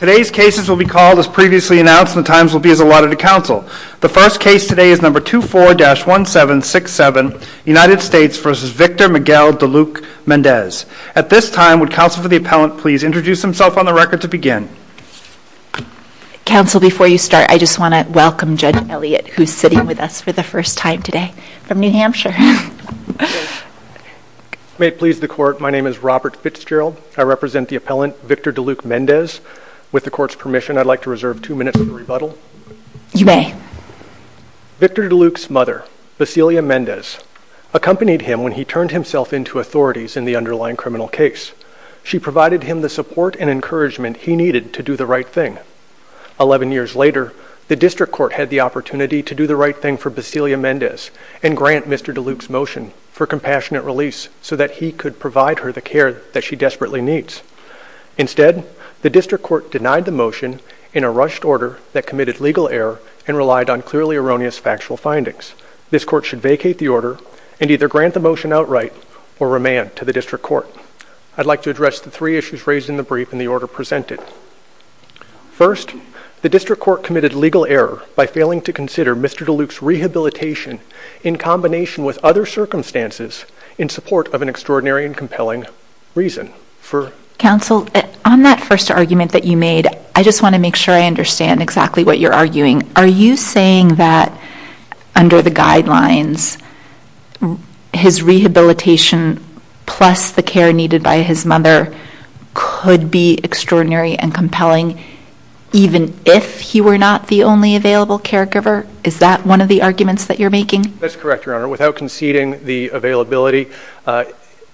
Today's cases will be called as previously announced and the times will be as allotted to counsel. The first case today is No. 24-1767, United States v. Victor Miguel Duluc-Mendez. At this time, would counsel for the appellant please introduce himself on the record to begin? Counsel, before you start, I just want to welcome Judge Elliott, who is sitting with us for the first time today, from New Hampshire. May it please the Court, my name is Robert Fitzgerald, I represent the appellant Victor Duluc-Mendez. With the Court's permission, I'd like to reserve two minutes for the rebuttal. You may. Victor Duluc's mother, Basilia Mendez, accompanied him when he turned himself into authorities in the underlying criminal case. She provided him the support and encouragement he needed to do the right thing. Eleven years later, the District Court had the opportunity to do the right thing for Basilia Mendez and grant Mr. Duluc's motion for compassionate release so that he could provide her the care that she desperately needs. Instead, the District Court denied the motion in a rushed order that committed legal error and relied on clearly erroneous factual findings. This Court should vacate the order and either grant the motion outright or remand to the District Court. I'd like to address the three issues raised in the brief and the order presented. First, the District Court committed legal error by failing to consider Mr. Duluc's rehabilitation in combination with other circumstances in support of an extraordinary and compelling reason. Counsel, on that first argument that you made, I just want to make sure I understand exactly what you're arguing. Are you saying that under the guidelines, his rehabilitation plus the care needed by his mother could be extraordinary and compelling even if he were not the only available caregiver? Is that one of the arguments that you're making? That's correct, Your Honor. Without conceding the availability,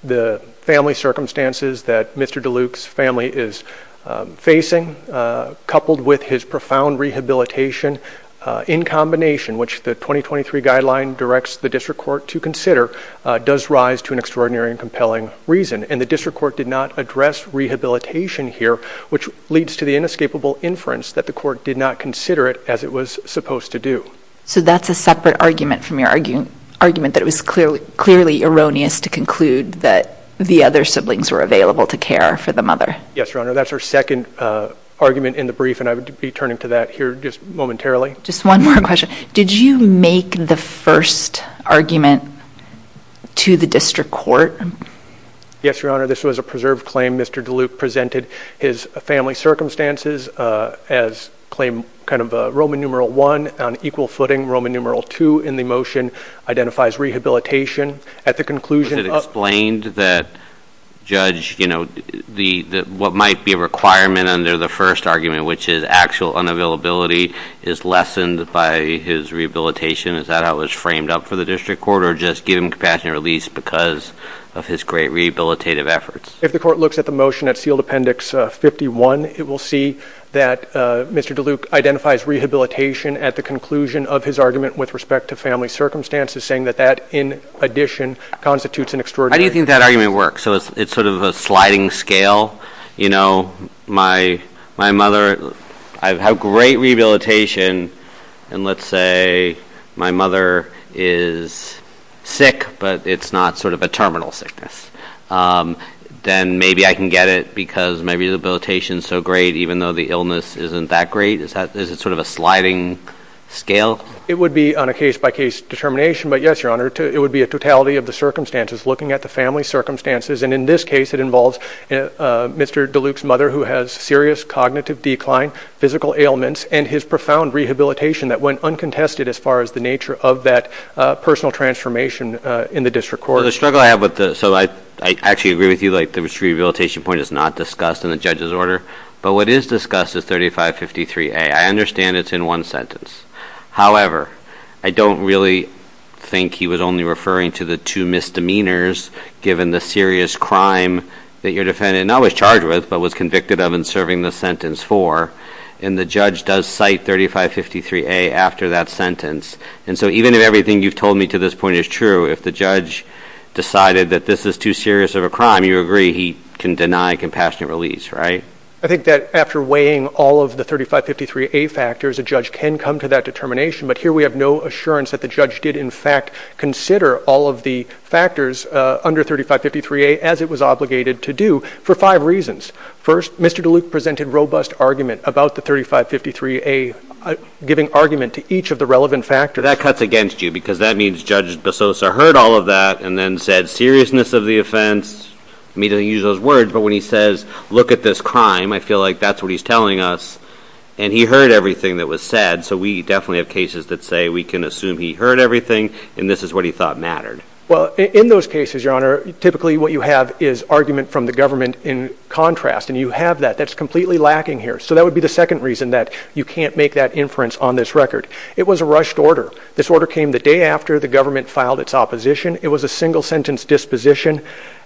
the family circumstances that Mr. Duluc's family is facing coupled with his profound rehabilitation in combination, which the 2023 guideline directs the District Court to consider, does rise to an extraordinary and compelling reason. The District Court did not address rehabilitation here, which leads to the inescapable inference that the Court did not consider it as it was supposed to do. So that's a separate argument from your argument that it was clearly erroneous to conclude that the other siblings were available to care for the mother? Yes, Your Honor. That's our second argument in the brief, and I would be turning to that here just momentarily. Just one more question. Did you make the first argument to the District Court? Yes, Your Honor. This was a preserved claim. Mr. Duluc presented his family circumstances as claim kind of Roman numeral I on equal footing. Roman numeral II in the motion identifies rehabilitation. At the conclusion of- Was it explained that, Judge, what might be a requirement under the first argument, which is actual unavailability, is lessened by his rehabilitation? Is that how it was framed up for the District Court, or just give him compassionate release because of his great rehabilitative efforts? If the Court looks at the motion at sealed appendix 51, it will see that Mr. Duluc identifies rehabilitation at the conclusion of his argument with respect to family circumstances, saying that that, in addition, constitutes an extraordinary- How do you think that argument works? So it's sort of a sliding scale? You know, my mother, I have great rehabilitation, and let's say my mother is sick, but it's not sort of a terminal sickness. Then maybe I can get it because my rehabilitation is so great, even though the illness isn't that great? Is it sort of a sliding scale? It would be on a case-by-case determination, but yes, Your Honor, it would be a totality of the circumstances, looking at the family circumstances, and in this case, it involves Mr. Duluc's mother, who has serious cognitive decline, physical ailments, and his profound rehabilitation that went uncontested as far as the nature of that personal transformation in the district court. The struggle I have with this, so I actually agree with you, like the rehabilitation point is not discussed in the judge's order, but what is discussed is 3553A. I understand it's in one sentence, however, I don't really think he was only referring to the two misdemeanors, given the serious crime that your defendant not only was charged with, but was convicted of in serving the sentence for, and the judge does cite 3553A after that sentence. And so even if everything you've told me to this point is true, if the judge decided that this is too serious of a crime, you agree he can deny compassionate release, right? I think that after weighing all of the 3553A factors, a judge can come to that determination, but here we have no assurance that the judge did, in fact, consider all of the factors under 3553A, as it was obligated to do, for five reasons. First, Mr. DeLuke presented robust argument about the 3553A, giving argument to each of the relevant factors. That cuts against you, because that means Judge Bessosa heard all of that and then said seriousness of the offense, I mean, he didn't use those words, but when he says, look at this crime, I feel like that's what he's telling us, and he heard everything that was said, so we definitely have cases that say we can assume he heard everything, and this is what he thought mattered. Well, in those cases, Your Honor, typically what you have is argument from the government in contrast, and you have that. That's completely lacking here, so that would be the second reason that you can't make that inference on this record. It was a rushed order. This order came the day after the government filed its opposition. It was a single-sentence disposition.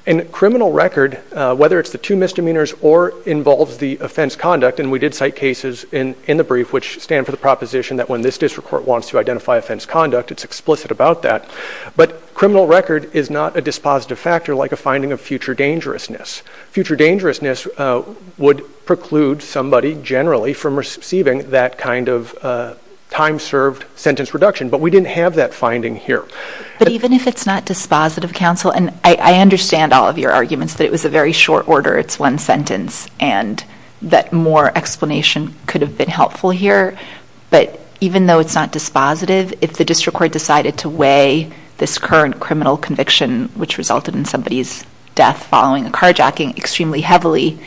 In criminal record, whether it's the two misdemeanors or involves the offense conduct, and we did cite cases in the brief which stand for the proposition that when this district court wants to identify offense conduct, it's explicit about that, but criminal record is not a dispositive factor like a finding of future dangerousness. Future dangerousness would preclude somebody generally from receiving that kind of time-served sentence reduction, but we didn't have that finding here. But even if it's not dispositive, counsel, and I understand all of your arguments that it was a very short order. It's one sentence, and that more explanation could have been helpful here, but even though it's not dispositive, if the district court decided to weigh this current criminal conviction which resulted in somebody's death following a carjacking extremely heavily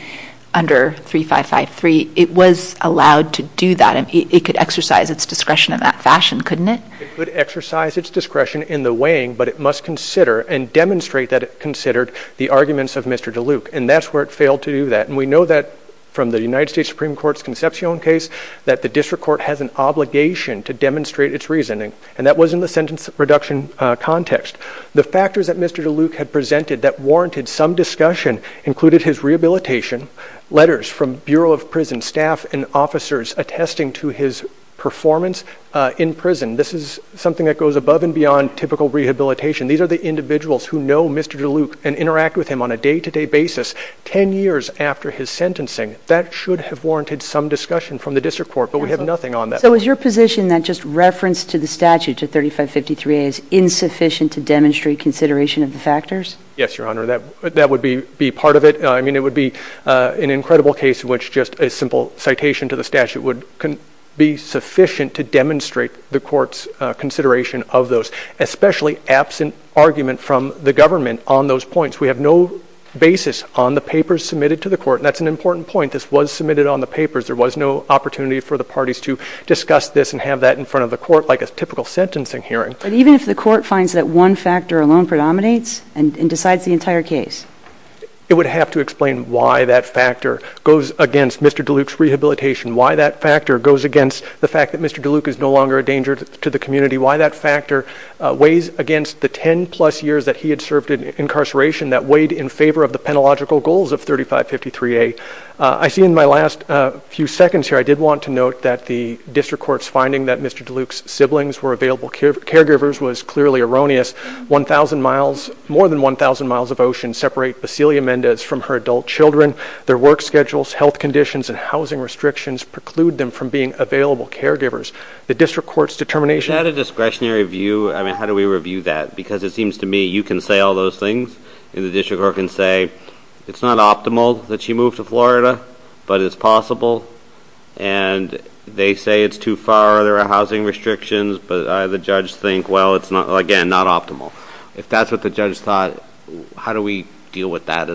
under 3553, it was allowed to do that. It could exercise its discretion in that fashion, couldn't it? It could exercise its discretion in the weighing, but it must consider and demonstrate that it considered the arguments of Mr. DeLuke, and that's where it failed to do that. And we know that from the United States Supreme Court's Concepcion case that the district court has an obligation to demonstrate its reasoning, and that was in the sentence reduction context. The factors that Mr. DeLuke had presented that warranted some discussion included his rehabilitation, letters from Bureau of Prison staff and officers attesting to his performance in prison. This is something that goes above and beyond typical rehabilitation. These are the individuals who know Mr. DeLuke and interact with him on a day-to-day basis ten years after his sentencing. That should have warranted some discussion from the district court, but we have nothing on that. So is your position that just reference to the statute, to 3553A, is insufficient to demonstrate consideration of the factors? Yes, Your Honor. That would be part of it. I mean, it would be an incredible case in which just a simple citation to the statute would be sufficient to demonstrate the court's consideration of those, especially absent argument from the government on those points. We have no basis on the papers submitted to the court, and that's an important point. This was submitted on the papers. There was no opportunity for the parties to discuss this and have that in front of the court like a typical sentencing hearing. But even if the court finds that one factor alone predominates and decides the entire case? It would have to explain why that factor goes against Mr. DeLuke's rehabilitation, why that factor goes against the fact that Mr. DeLuke is no longer a danger to the community, why that factor weighs against the ten-plus years that he had served in incarceration that weighed in favor of the penological goals of 3553A. I see in my last few seconds here, I did want to note that the district court's finding that Mr. DeLuke's siblings were available caregivers was clearly erroneous. More than 1,000 miles of ocean separate Vasilia Mendez from her adult children. Their work schedules, health conditions, and housing restrictions preclude them from being available caregivers. The district court's determination— Is that a discretionary view? I mean, how do we review that? Because it seems to me you can say all those things, and the district court can say it's not optimal that she move to Florida, but it's possible. And they say it's too far, there are housing restrictions, but the judge think, well, again, not optimal. If that's what the judge thought, how do we deal with that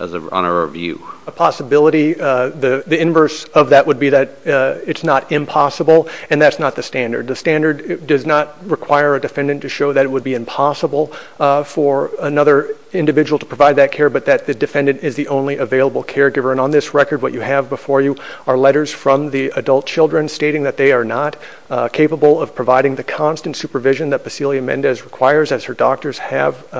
on a review? A possibility, the inverse of that would be that it's not impossible, and that's not the standard. The standard does not require a defendant to show that it would be impossible for another individual to provide that care, but that the defendant is the only available caregiver. And on this record, what you have before you are letters from the adult children stating that they are not capable of providing the constant supervision that Vasilia Mendez requires as her doctors have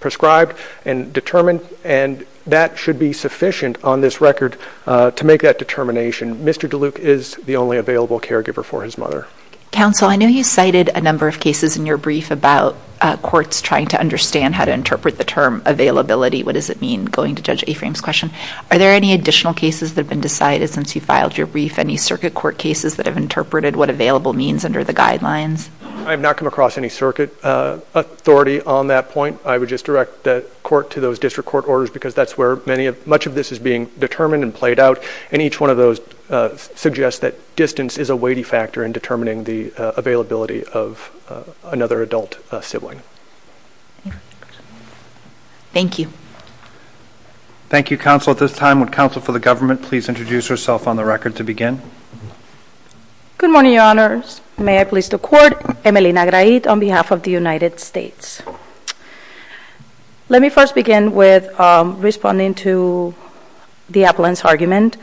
prescribed and determined, and that should be sufficient on this record to make that determination. Mr. DeLuke is the only available caregiver for his mother. Counsel, I know you cited a number of cases in your brief about courts trying to understand how to interpret the term availability. What does it mean? Going to Judge Afram's question. Are there any additional cases that have been decided since you filed your brief? Any circuit court cases that have interpreted what available means under the guidelines? I have not come across any circuit authority on that point. I would just direct the court to those district court orders, because that's where much of this is being determined and played out, and each one of those suggests that distance is a weighty factor in determining the availability of another adult sibling. Thank you. Thank you, Counsel. At this time, would Counsel for the Government please introduce herself on the record to begin? Good morning, Your Honors. May I please the Court? Emelina Grahit on behalf of the United States. Let me first begin with responding to the appellant's argument.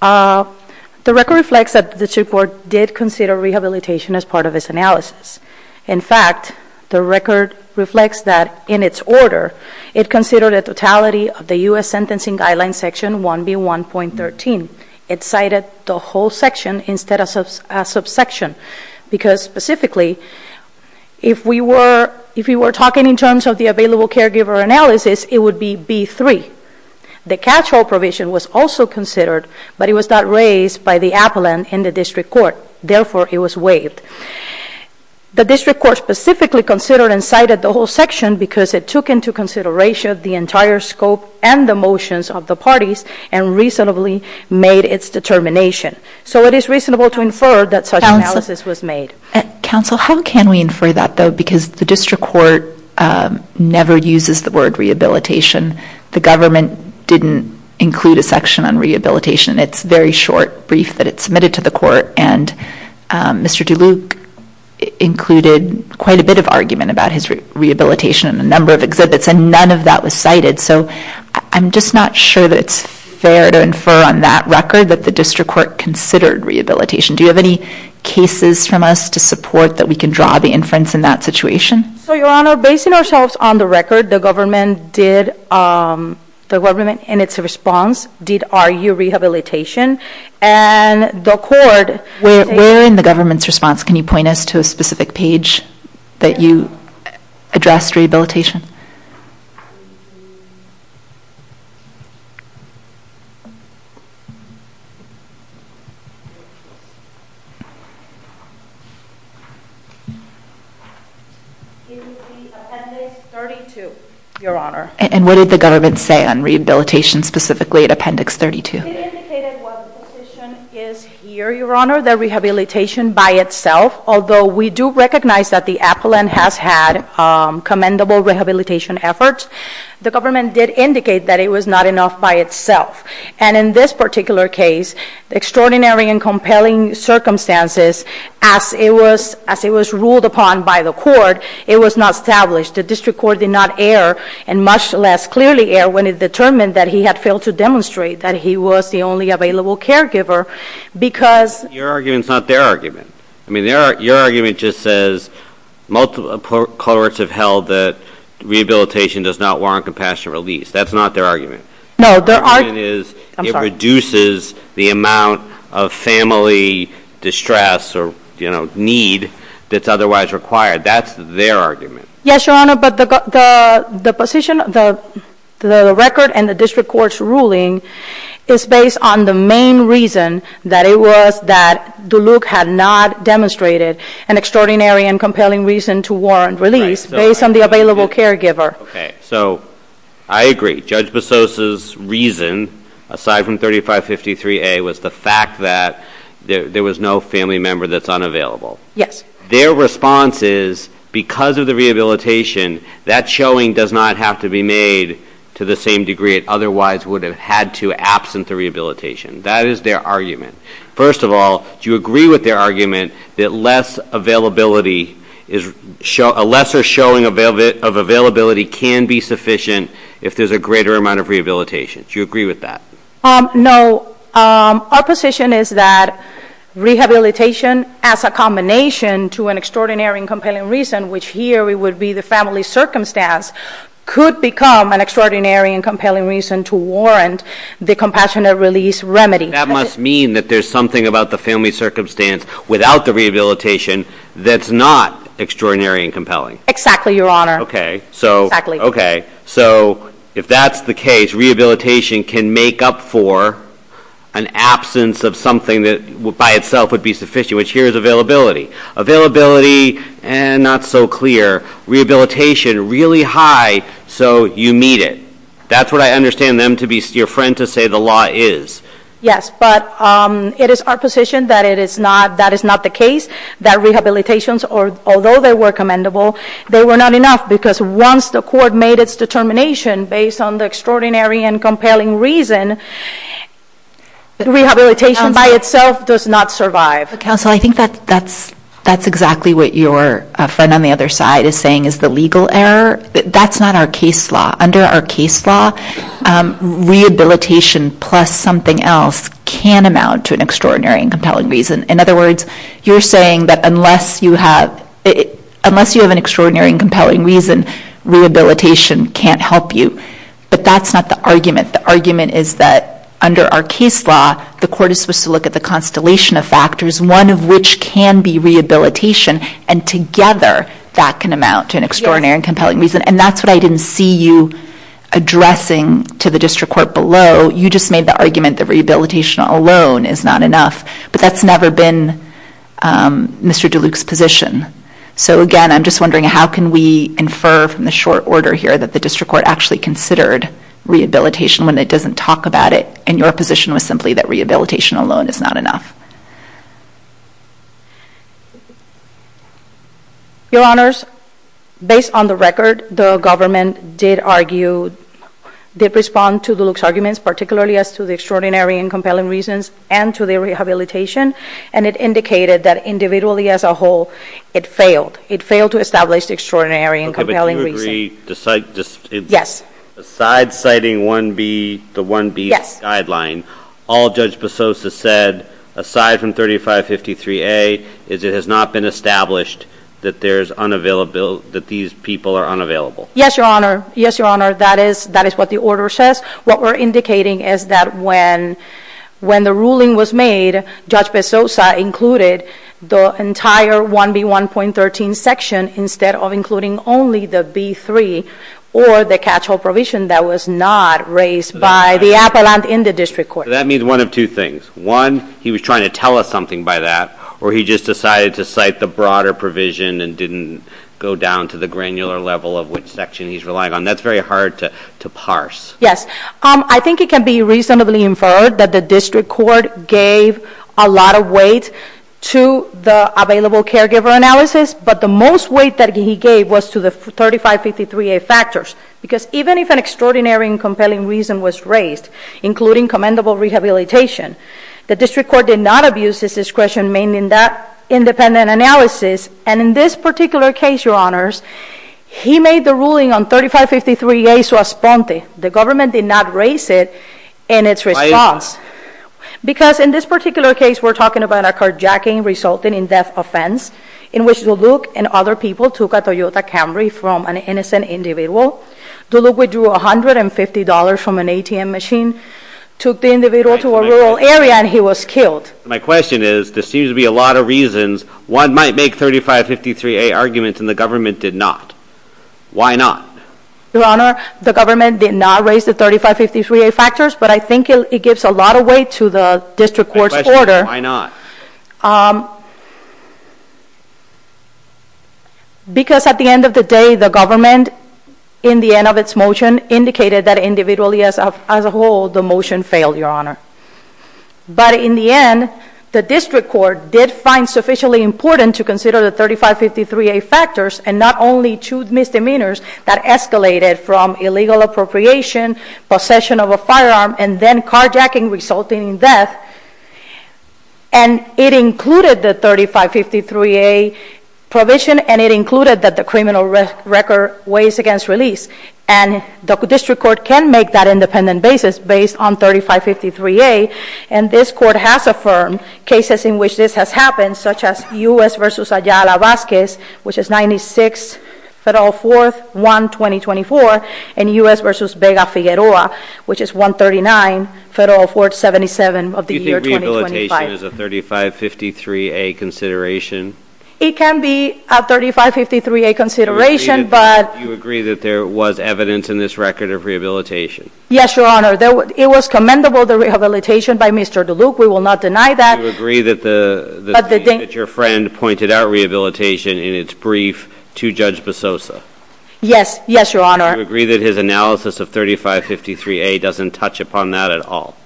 The record reflects that the district court did consider rehabilitation as part of its analysis. In fact, the record reflects that in its order, it considered a totality of the U.S. Sentencing Guidelines Section 1B1.13. It cited the whole section instead of a subsection, because specifically, if we were talking in terms of the available caregiver analysis, it would be B3. The catch-all provision was also considered, but it was not raised by the appellant in the district court. Therefore, it was waived. The district court specifically considered and cited the whole section because it took into consideration the entire scope and the motions of the parties and reasonably made its determination. So it is reasonable to infer that such analysis was made. Counsel, how can we infer that, though? Because the district court never uses the word rehabilitation. The government didn't include a section on rehabilitation. It's a very short brief that it submitted to the court, and Mr. DeLuke included quite a bit of argument about his rehabilitation in a number of exhibits, and none of that was cited. So I'm just not sure that it's fair to infer on that record that the district court considered rehabilitation. Do you have any cases from us to support that we can draw the inference in that situation? So, Your Honor, basing ourselves on the record, the government, in its response, did argue rehabilitation, and the court... Where in the government's response can you point us to a specific page that you addressed rehabilitation? In the appendix 32, Your Honor. And what did the government say on rehabilitation specifically at appendix 32? It indicated what the position is here, Your Honor, that rehabilitation by itself, although we do recognize that the appellant has had commendable rehabilitation efforts, the government did indicate that it was not enough by itself. And in this particular case, extraordinary and compelling circumstances, as it was ruled upon by the court, it was not established. The district court did not err, and much less clearly err, when it determined that he had to demonstrate that he was the only available caregiver, because... Your argument's not their argument. I mean, your argument just says cohorts have held that rehabilitation does not warrant compassionate release. That's not their argument. No, their argument... Their argument is it reduces the amount of family distress or, you know, need that's otherwise required. That's their argument. Yes, Your Honor, but the position, the record and the district court's ruling is based on the main reason that it was that Duluk had not demonstrated an extraordinary and compelling reason to warrant release based on the available caregiver. Okay. So I agree. Judge Bessos' reason, aside from 3553A, was the fact that there was no family member that's unavailable. Yes. Their response is, because of the rehabilitation, that showing does not have to be made to the same degree it otherwise would have had to absent the rehabilitation. That is their argument. First of all, do you agree with their argument that less availability, a lesser showing of availability can be sufficient if there's a greater amount of rehabilitation? Do you agree with that? No. So our position is that rehabilitation as a combination to an extraordinary and compelling reason, which here it would be the family circumstance, could become an extraordinary and compelling reason to warrant the compassionate release remedy. That must mean that there's something about the family circumstance without the rehabilitation that's not extraordinary and compelling. Exactly, Your Honor. Exactly. Okay. So if that's the case, rehabilitation can make up for an absence of something that by itself would be sufficient, which here is availability. Availability, not so clear. Rehabilitation, really high, so you meet it. That's what I understand your friend to say the law is. Yes. But it is our position that that is not the case, that rehabilitations, although they were commendable, they were not enough because once the court made its determination based on the extraordinary and compelling reason, rehabilitation by itself does not survive. Counsel, I think that's exactly what your friend on the other side is saying is the legal error. That's not our case law. Under our case law, rehabilitation plus something else can amount to an extraordinary and compelling reason. In other words, you're saying that unless you have an extraordinary and compelling reason, rehabilitation can't help you. But that's not the argument. The argument is that under our case law, the court is supposed to look at the constellation of factors, one of which can be rehabilitation, and together that can amount to an extraordinary and compelling reason. And that's what I didn't see you addressing to the district court below. You just made the argument that rehabilitation alone is not enough. But that's never been Mr. DeLuke's position. So again, I'm just wondering, how can we infer from the short order here that the district court actually considered rehabilitation when it doesn't talk about it and your position was simply that rehabilitation alone is not enough? Your Honors, based on the record, the government did respond to DeLuke's arguments, particularly as to the extraordinary and compelling reasons and to the rehabilitation, and it indicated that individually as a whole, it failed. It failed to establish the extraordinary and compelling reason. Okay, but do you agree, besides citing 1B, the 1B guideline, all Judge Bezos has said, aside from 3553A, is it has not been established that these people are unavailable. Yes, Your Honor. Yes, Your Honor. That is what the order says. What we're indicating is that when the ruling was made, Judge Bezosa included the entire 1B1.13 section instead of including only the B3 or the catch-all provision that was not raised by the appellant in the district court. That means one of two things. One, he was trying to tell us something by that, or he just decided to cite the broader provision and didn't go down to the granular level of which section he's relying on. That's very hard to parse. Yes. I think it can be reasonably inferred that the district court gave a lot of weight to the available caregiver analysis, but the most weight that he gave was to the 3553A factors, because even if an extraordinary and compelling reason was raised, including commendable rehabilitation, the district court did not abuse his discretion, meaning that independent analysis, and in this particular case, Your Honors, he made the ruling on 3553A to a sponte. The government did not raise it in its response, because in this particular case, we're talking about a carjacking resulting in death offense, in which Duluk and other people took a Toyota Camry from an innocent individual, Duluk withdrew $150 from an ATM machine, took the individual to a rural area, and he was killed. My question is, there seems to be a lot of reasons one might make 3553A arguments and the government did not. Why not? Your Honor, the government did not raise the 3553A factors, but I think it gives a lot of weight to the district court's order. My question is, why not? Because at the end of the day, the government, in the end of its motion, indicated that individually as a whole, the motion failed, Your Honor. But in the end, the district court did find sufficiently important to consider the 3553A factors and not only two misdemeanors that escalated from illegal appropriation, possession of a firearm, and then carjacking resulting in death. And it included the 3553A provision, and it included that the criminal record weighs against release. And the district court can make that independent basis based on 3553A, and this court has affirmed cases in which this has happened, such as U.S. v. Ayala-Vasquez, which is 96, Federal 4th, 1, 2024, and U.S. v. Vega-Figueroa, which is 139, Federal 4th, 77 of the year 2025. Do you think rehabilitation is a 3553A consideration? It can be a 3553A consideration, but... You agree that there was evidence in this record of rehabilitation? Yes, Your Honor. It was commendable, the rehabilitation by Mr. DeLuke. We will not deny that. Do you agree that your friend pointed out rehabilitation in its brief to Judge Bezosa? Yes, yes, Your Honor. Do you agree that his analysis of 3553A doesn't touch upon that at all?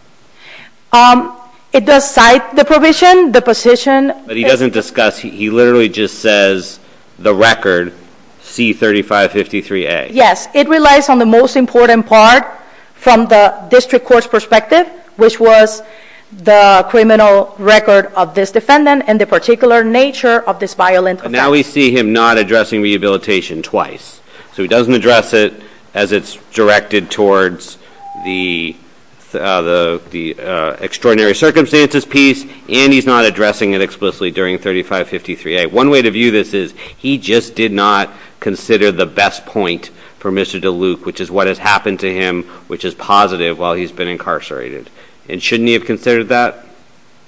It does cite the provision, the position... But he doesn't discuss, he literally just says, the record, C3553A. Yes, it relies on the most important part from the district court's perspective, which was the criminal record of this defendant and the particular nature of this violent offender. Now we see him not addressing rehabilitation twice, so he doesn't address it as it's directed towards the extraordinary circumstances piece, and he's not addressing it explicitly during 3553A. One way to view this is, he just did not consider the best point for Mr. DeLuke, which is what happened to him, which is positive, while he's been incarcerated. And shouldn't he have considered that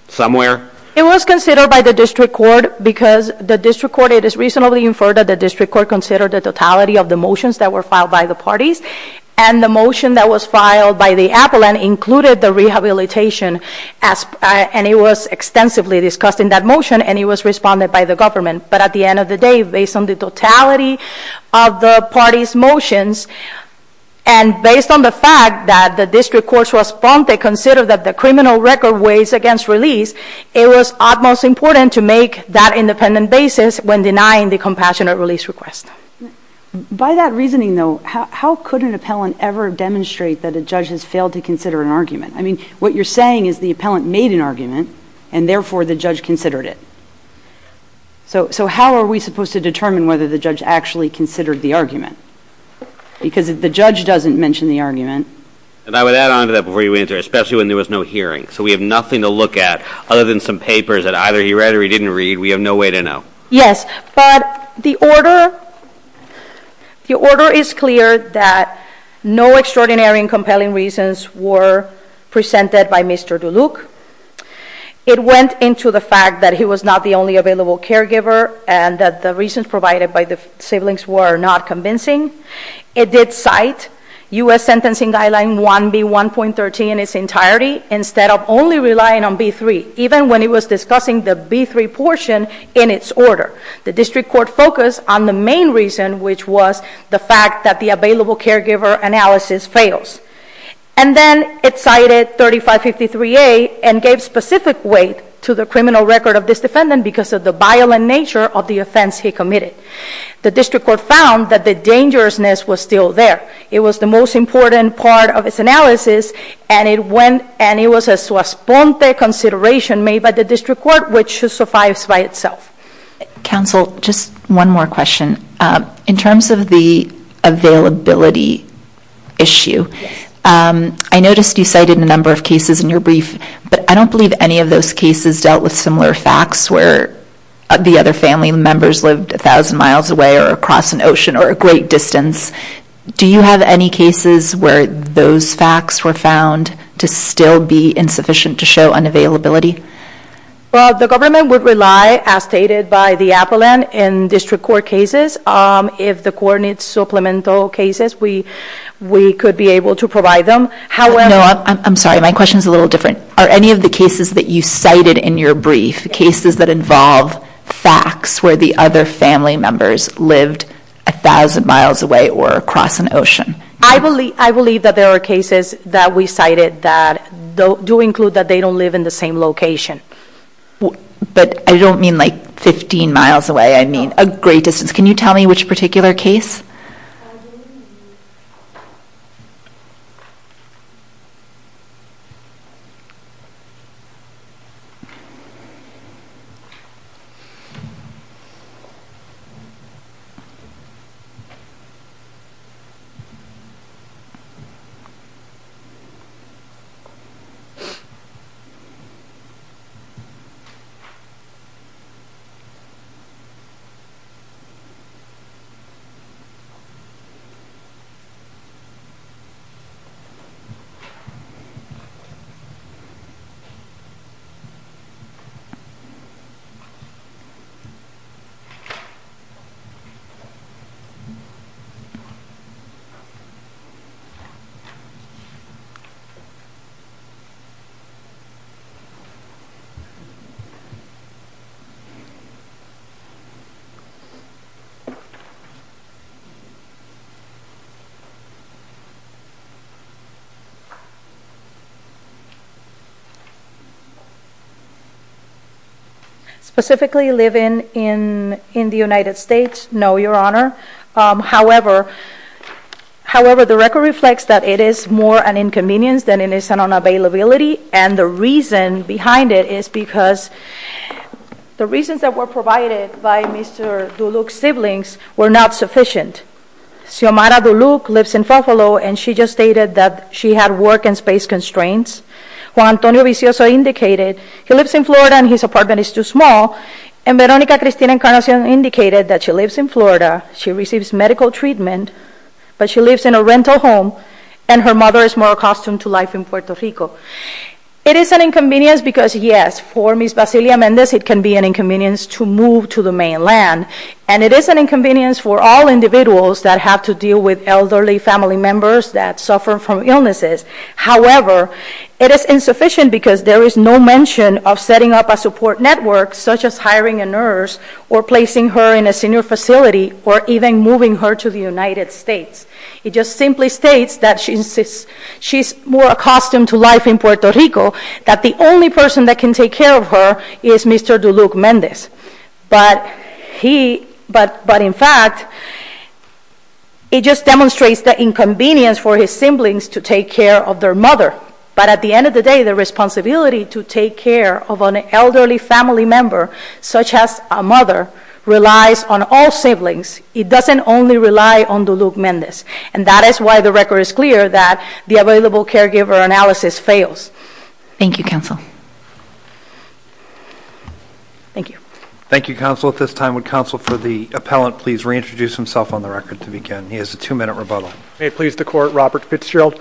somewhere? It was considered by the district court because the district court, it is reasonably inferred that the district court considered the totality of the motions that were filed by the parties, and the motion that was filed by the appellant included the rehabilitation, and it was extensively discussed in that motion, and it was responded by the government. But at the end of the day, based on the totality of the parties' motions, and based on the fact that the district court's response, they considered that the criminal record weighs against release, it was utmost important to make that independent basis when denying the compassionate release request. By that reasoning, though, how could an appellant ever demonstrate that a judge has failed to consider an argument? I mean, what you're saying is the appellant made an argument, and therefore the judge considered it. So how are we supposed to determine whether the judge actually considered the argument? Because if the judge doesn't mention the argument... And I would add on to that before you answer, especially when there was no hearing. So we have nothing to look at other than some papers that either he read or he didn't read. We have no way to know. Yes. But the order, the order is clear that no extraordinary and compelling reasons were presented by Mr. Duluc. It went into the fact that he was not the only available caregiver, and that the reasons provided by the siblings were not convincing. It did cite U.S. Sentencing Guideline 1B1.13 in its entirety, instead of only relying on B3, even when it was discussing the B3 portion in its order. The district court focused on the main reason, which was the fact that the available caregiver analysis fails. And then it cited 3553A and gave specific weight to the criminal record of this defendant because of the violent nature of the offense he committed. The district court found that the dangerousness was still there. It was the most important part of its analysis, and it was a sua sponte consideration made by the district court, which suffices by itself. Counsel, just one more question. In terms of the availability issue, I noticed you cited a number of cases in your brief, but I don't believe any of those cases dealt with similar facts where the other family members lived a thousand miles away or across an ocean or a great distance. Do you have any cases where those facts were found to still be insufficient to show unavailability? Well, the government would rely, as stated by the appellant, in district court cases. If the court needs supplemental cases, we could be able to provide them. No, I'm sorry, my question is a little different. Are any of the cases that you cited in your brief cases that involve facts where the other family members lived a thousand miles away or across an ocean? I believe that there are cases that we cited that do include that they don't live in the same location. But I don't mean like 15 miles away, I mean a great distance. Can you tell me which particular case? Specifically, living in the United States? No, Your Honor. However, the record reflects that it is more an inconvenience than it is an unavailability, and the reason behind it is because the reasons that were provided by Mr. Duluc's siblings were not sufficient. Xiomara Duluc lives in Buffalo, and she just stated that she had work and space constraints. Juan Antonio Vicioso indicated he lives in Florida and his apartment is too small. And Veronica Cristina Encarnacion indicated that she lives in Florida, she receives medical treatment, but she lives in a rental home, and her mother is more accustomed to life in Puerto Rico. It is an inconvenience because, yes, for Ms. Vasilia Mendez it can be an inconvenience to move to the mainland, and it is an inconvenience for all individuals that have to deal with elderly family members that suffer from illnesses. However, it is insufficient because there is no mention of setting up a support network such as hiring a nurse or placing her in a senior facility or even moving her to the United States. It just simply states that she is more accustomed to life in Puerto Rico, that the only person that can take care of her is Mr. Duluc Mendez. But in fact, it just demonstrates the inconvenience for his siblings to take care of their mother. But at the end of the day, the responsibility to take care of an elderly family member, such as a mother, relies on all siblings. It doesn't only rely on Duluc Mendez. And that is why the record is clear that the available caregiver analysis fails. Thank you, counsel. Thank you, counsel. At this time, would counsel for the appellant please reintroduce himself on the record to begin? He has a two-minute rebuttal. May it please the Court. Robert Fitzgerald.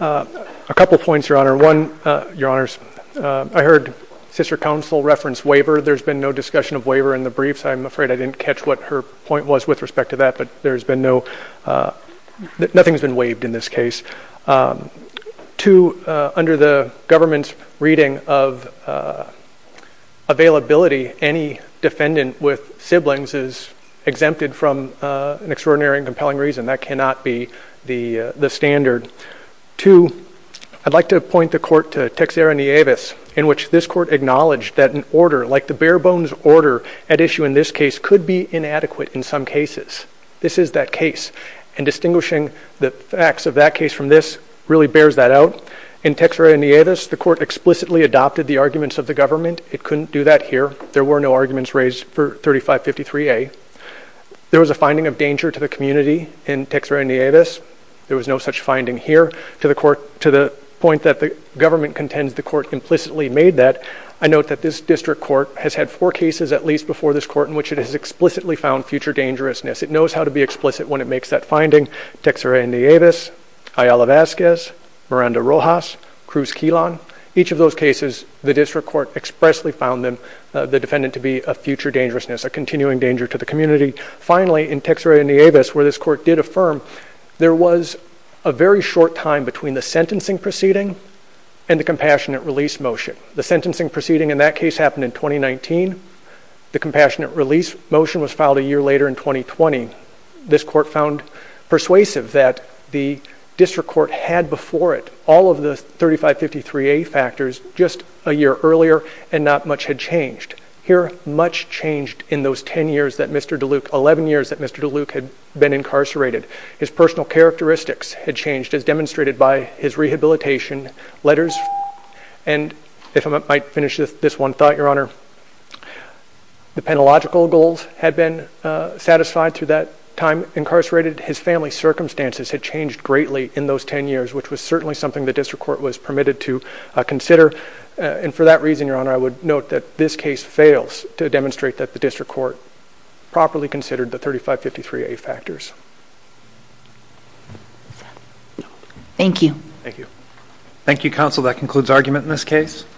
A couple points, Your Honor. One, Your Honors, I heard Sister Counsel reference waiver. There's been no discussion of waiver in the briefs. I'm afraid I didn't catch what her point was with respect to that, but there's been no – nothing's been waived in this case. Two, under the government's reading of availability, any defendant with siblings is exempted from an extraordinary and compelling reason. That cannot be the standard. Two, I'd like to point the Court to Texera Nieves, in which this Court acknowledged that an order like the bare-bones order at issue in this case could be inadequate in some cases. This is that case, and distinguishing the facts of that case from this really bears that out. In Texera Nieves, the Court explicitly adopted the arguments of the government. It couldn't do that here. There were no arguments raised for 3553A. There was a finding of danger to the community in Texera Nieves. There was no such finding here to the point that the government contends the Court implicitly made that. I note that this District Court has had four cases, at least, before this Court in which it has explicitly found future dangerousness. It knows how to be explicit when it makes that finding – Texera Nieves, Ayala Vazquez, Miranda Rojas, Cruz Quilan. Each of those cases, the District Court expressly found the defendant to be a future dangerousness, a continuing danger to the community. Finally, in Texera Nieves, where this Court did affirm, there was a very short time between the sentencing proceeding and the compassionate release motion. The sentencing proceeding in that case happened in 2019. The compassionate release motion was filed a year later in 2020. This Court found persuasive that the District Court had before it all of the 3553A factors just a year earlier, and not much had changed. Here, much changed in those 10 years that Mr. DeLuke – 11 years that Mr. DeLuke had been incarcerated. His personal characteristics had changed, as demonstrated by his rehabilitation letters and, if I might finish this one thought, Your Honor, the penalogical goals had been satisfied through that time incarcerated. His family circumstances had changed greatly in those 10 years, which was certainly something the District Court was permitted to consider, and for that reason, Your Honor, I would note that this case fails to demonstrate that the District Court properly considered the 3553A factors. Thank you. Thank you. Thank you, Counsel. That concludes argument in this case.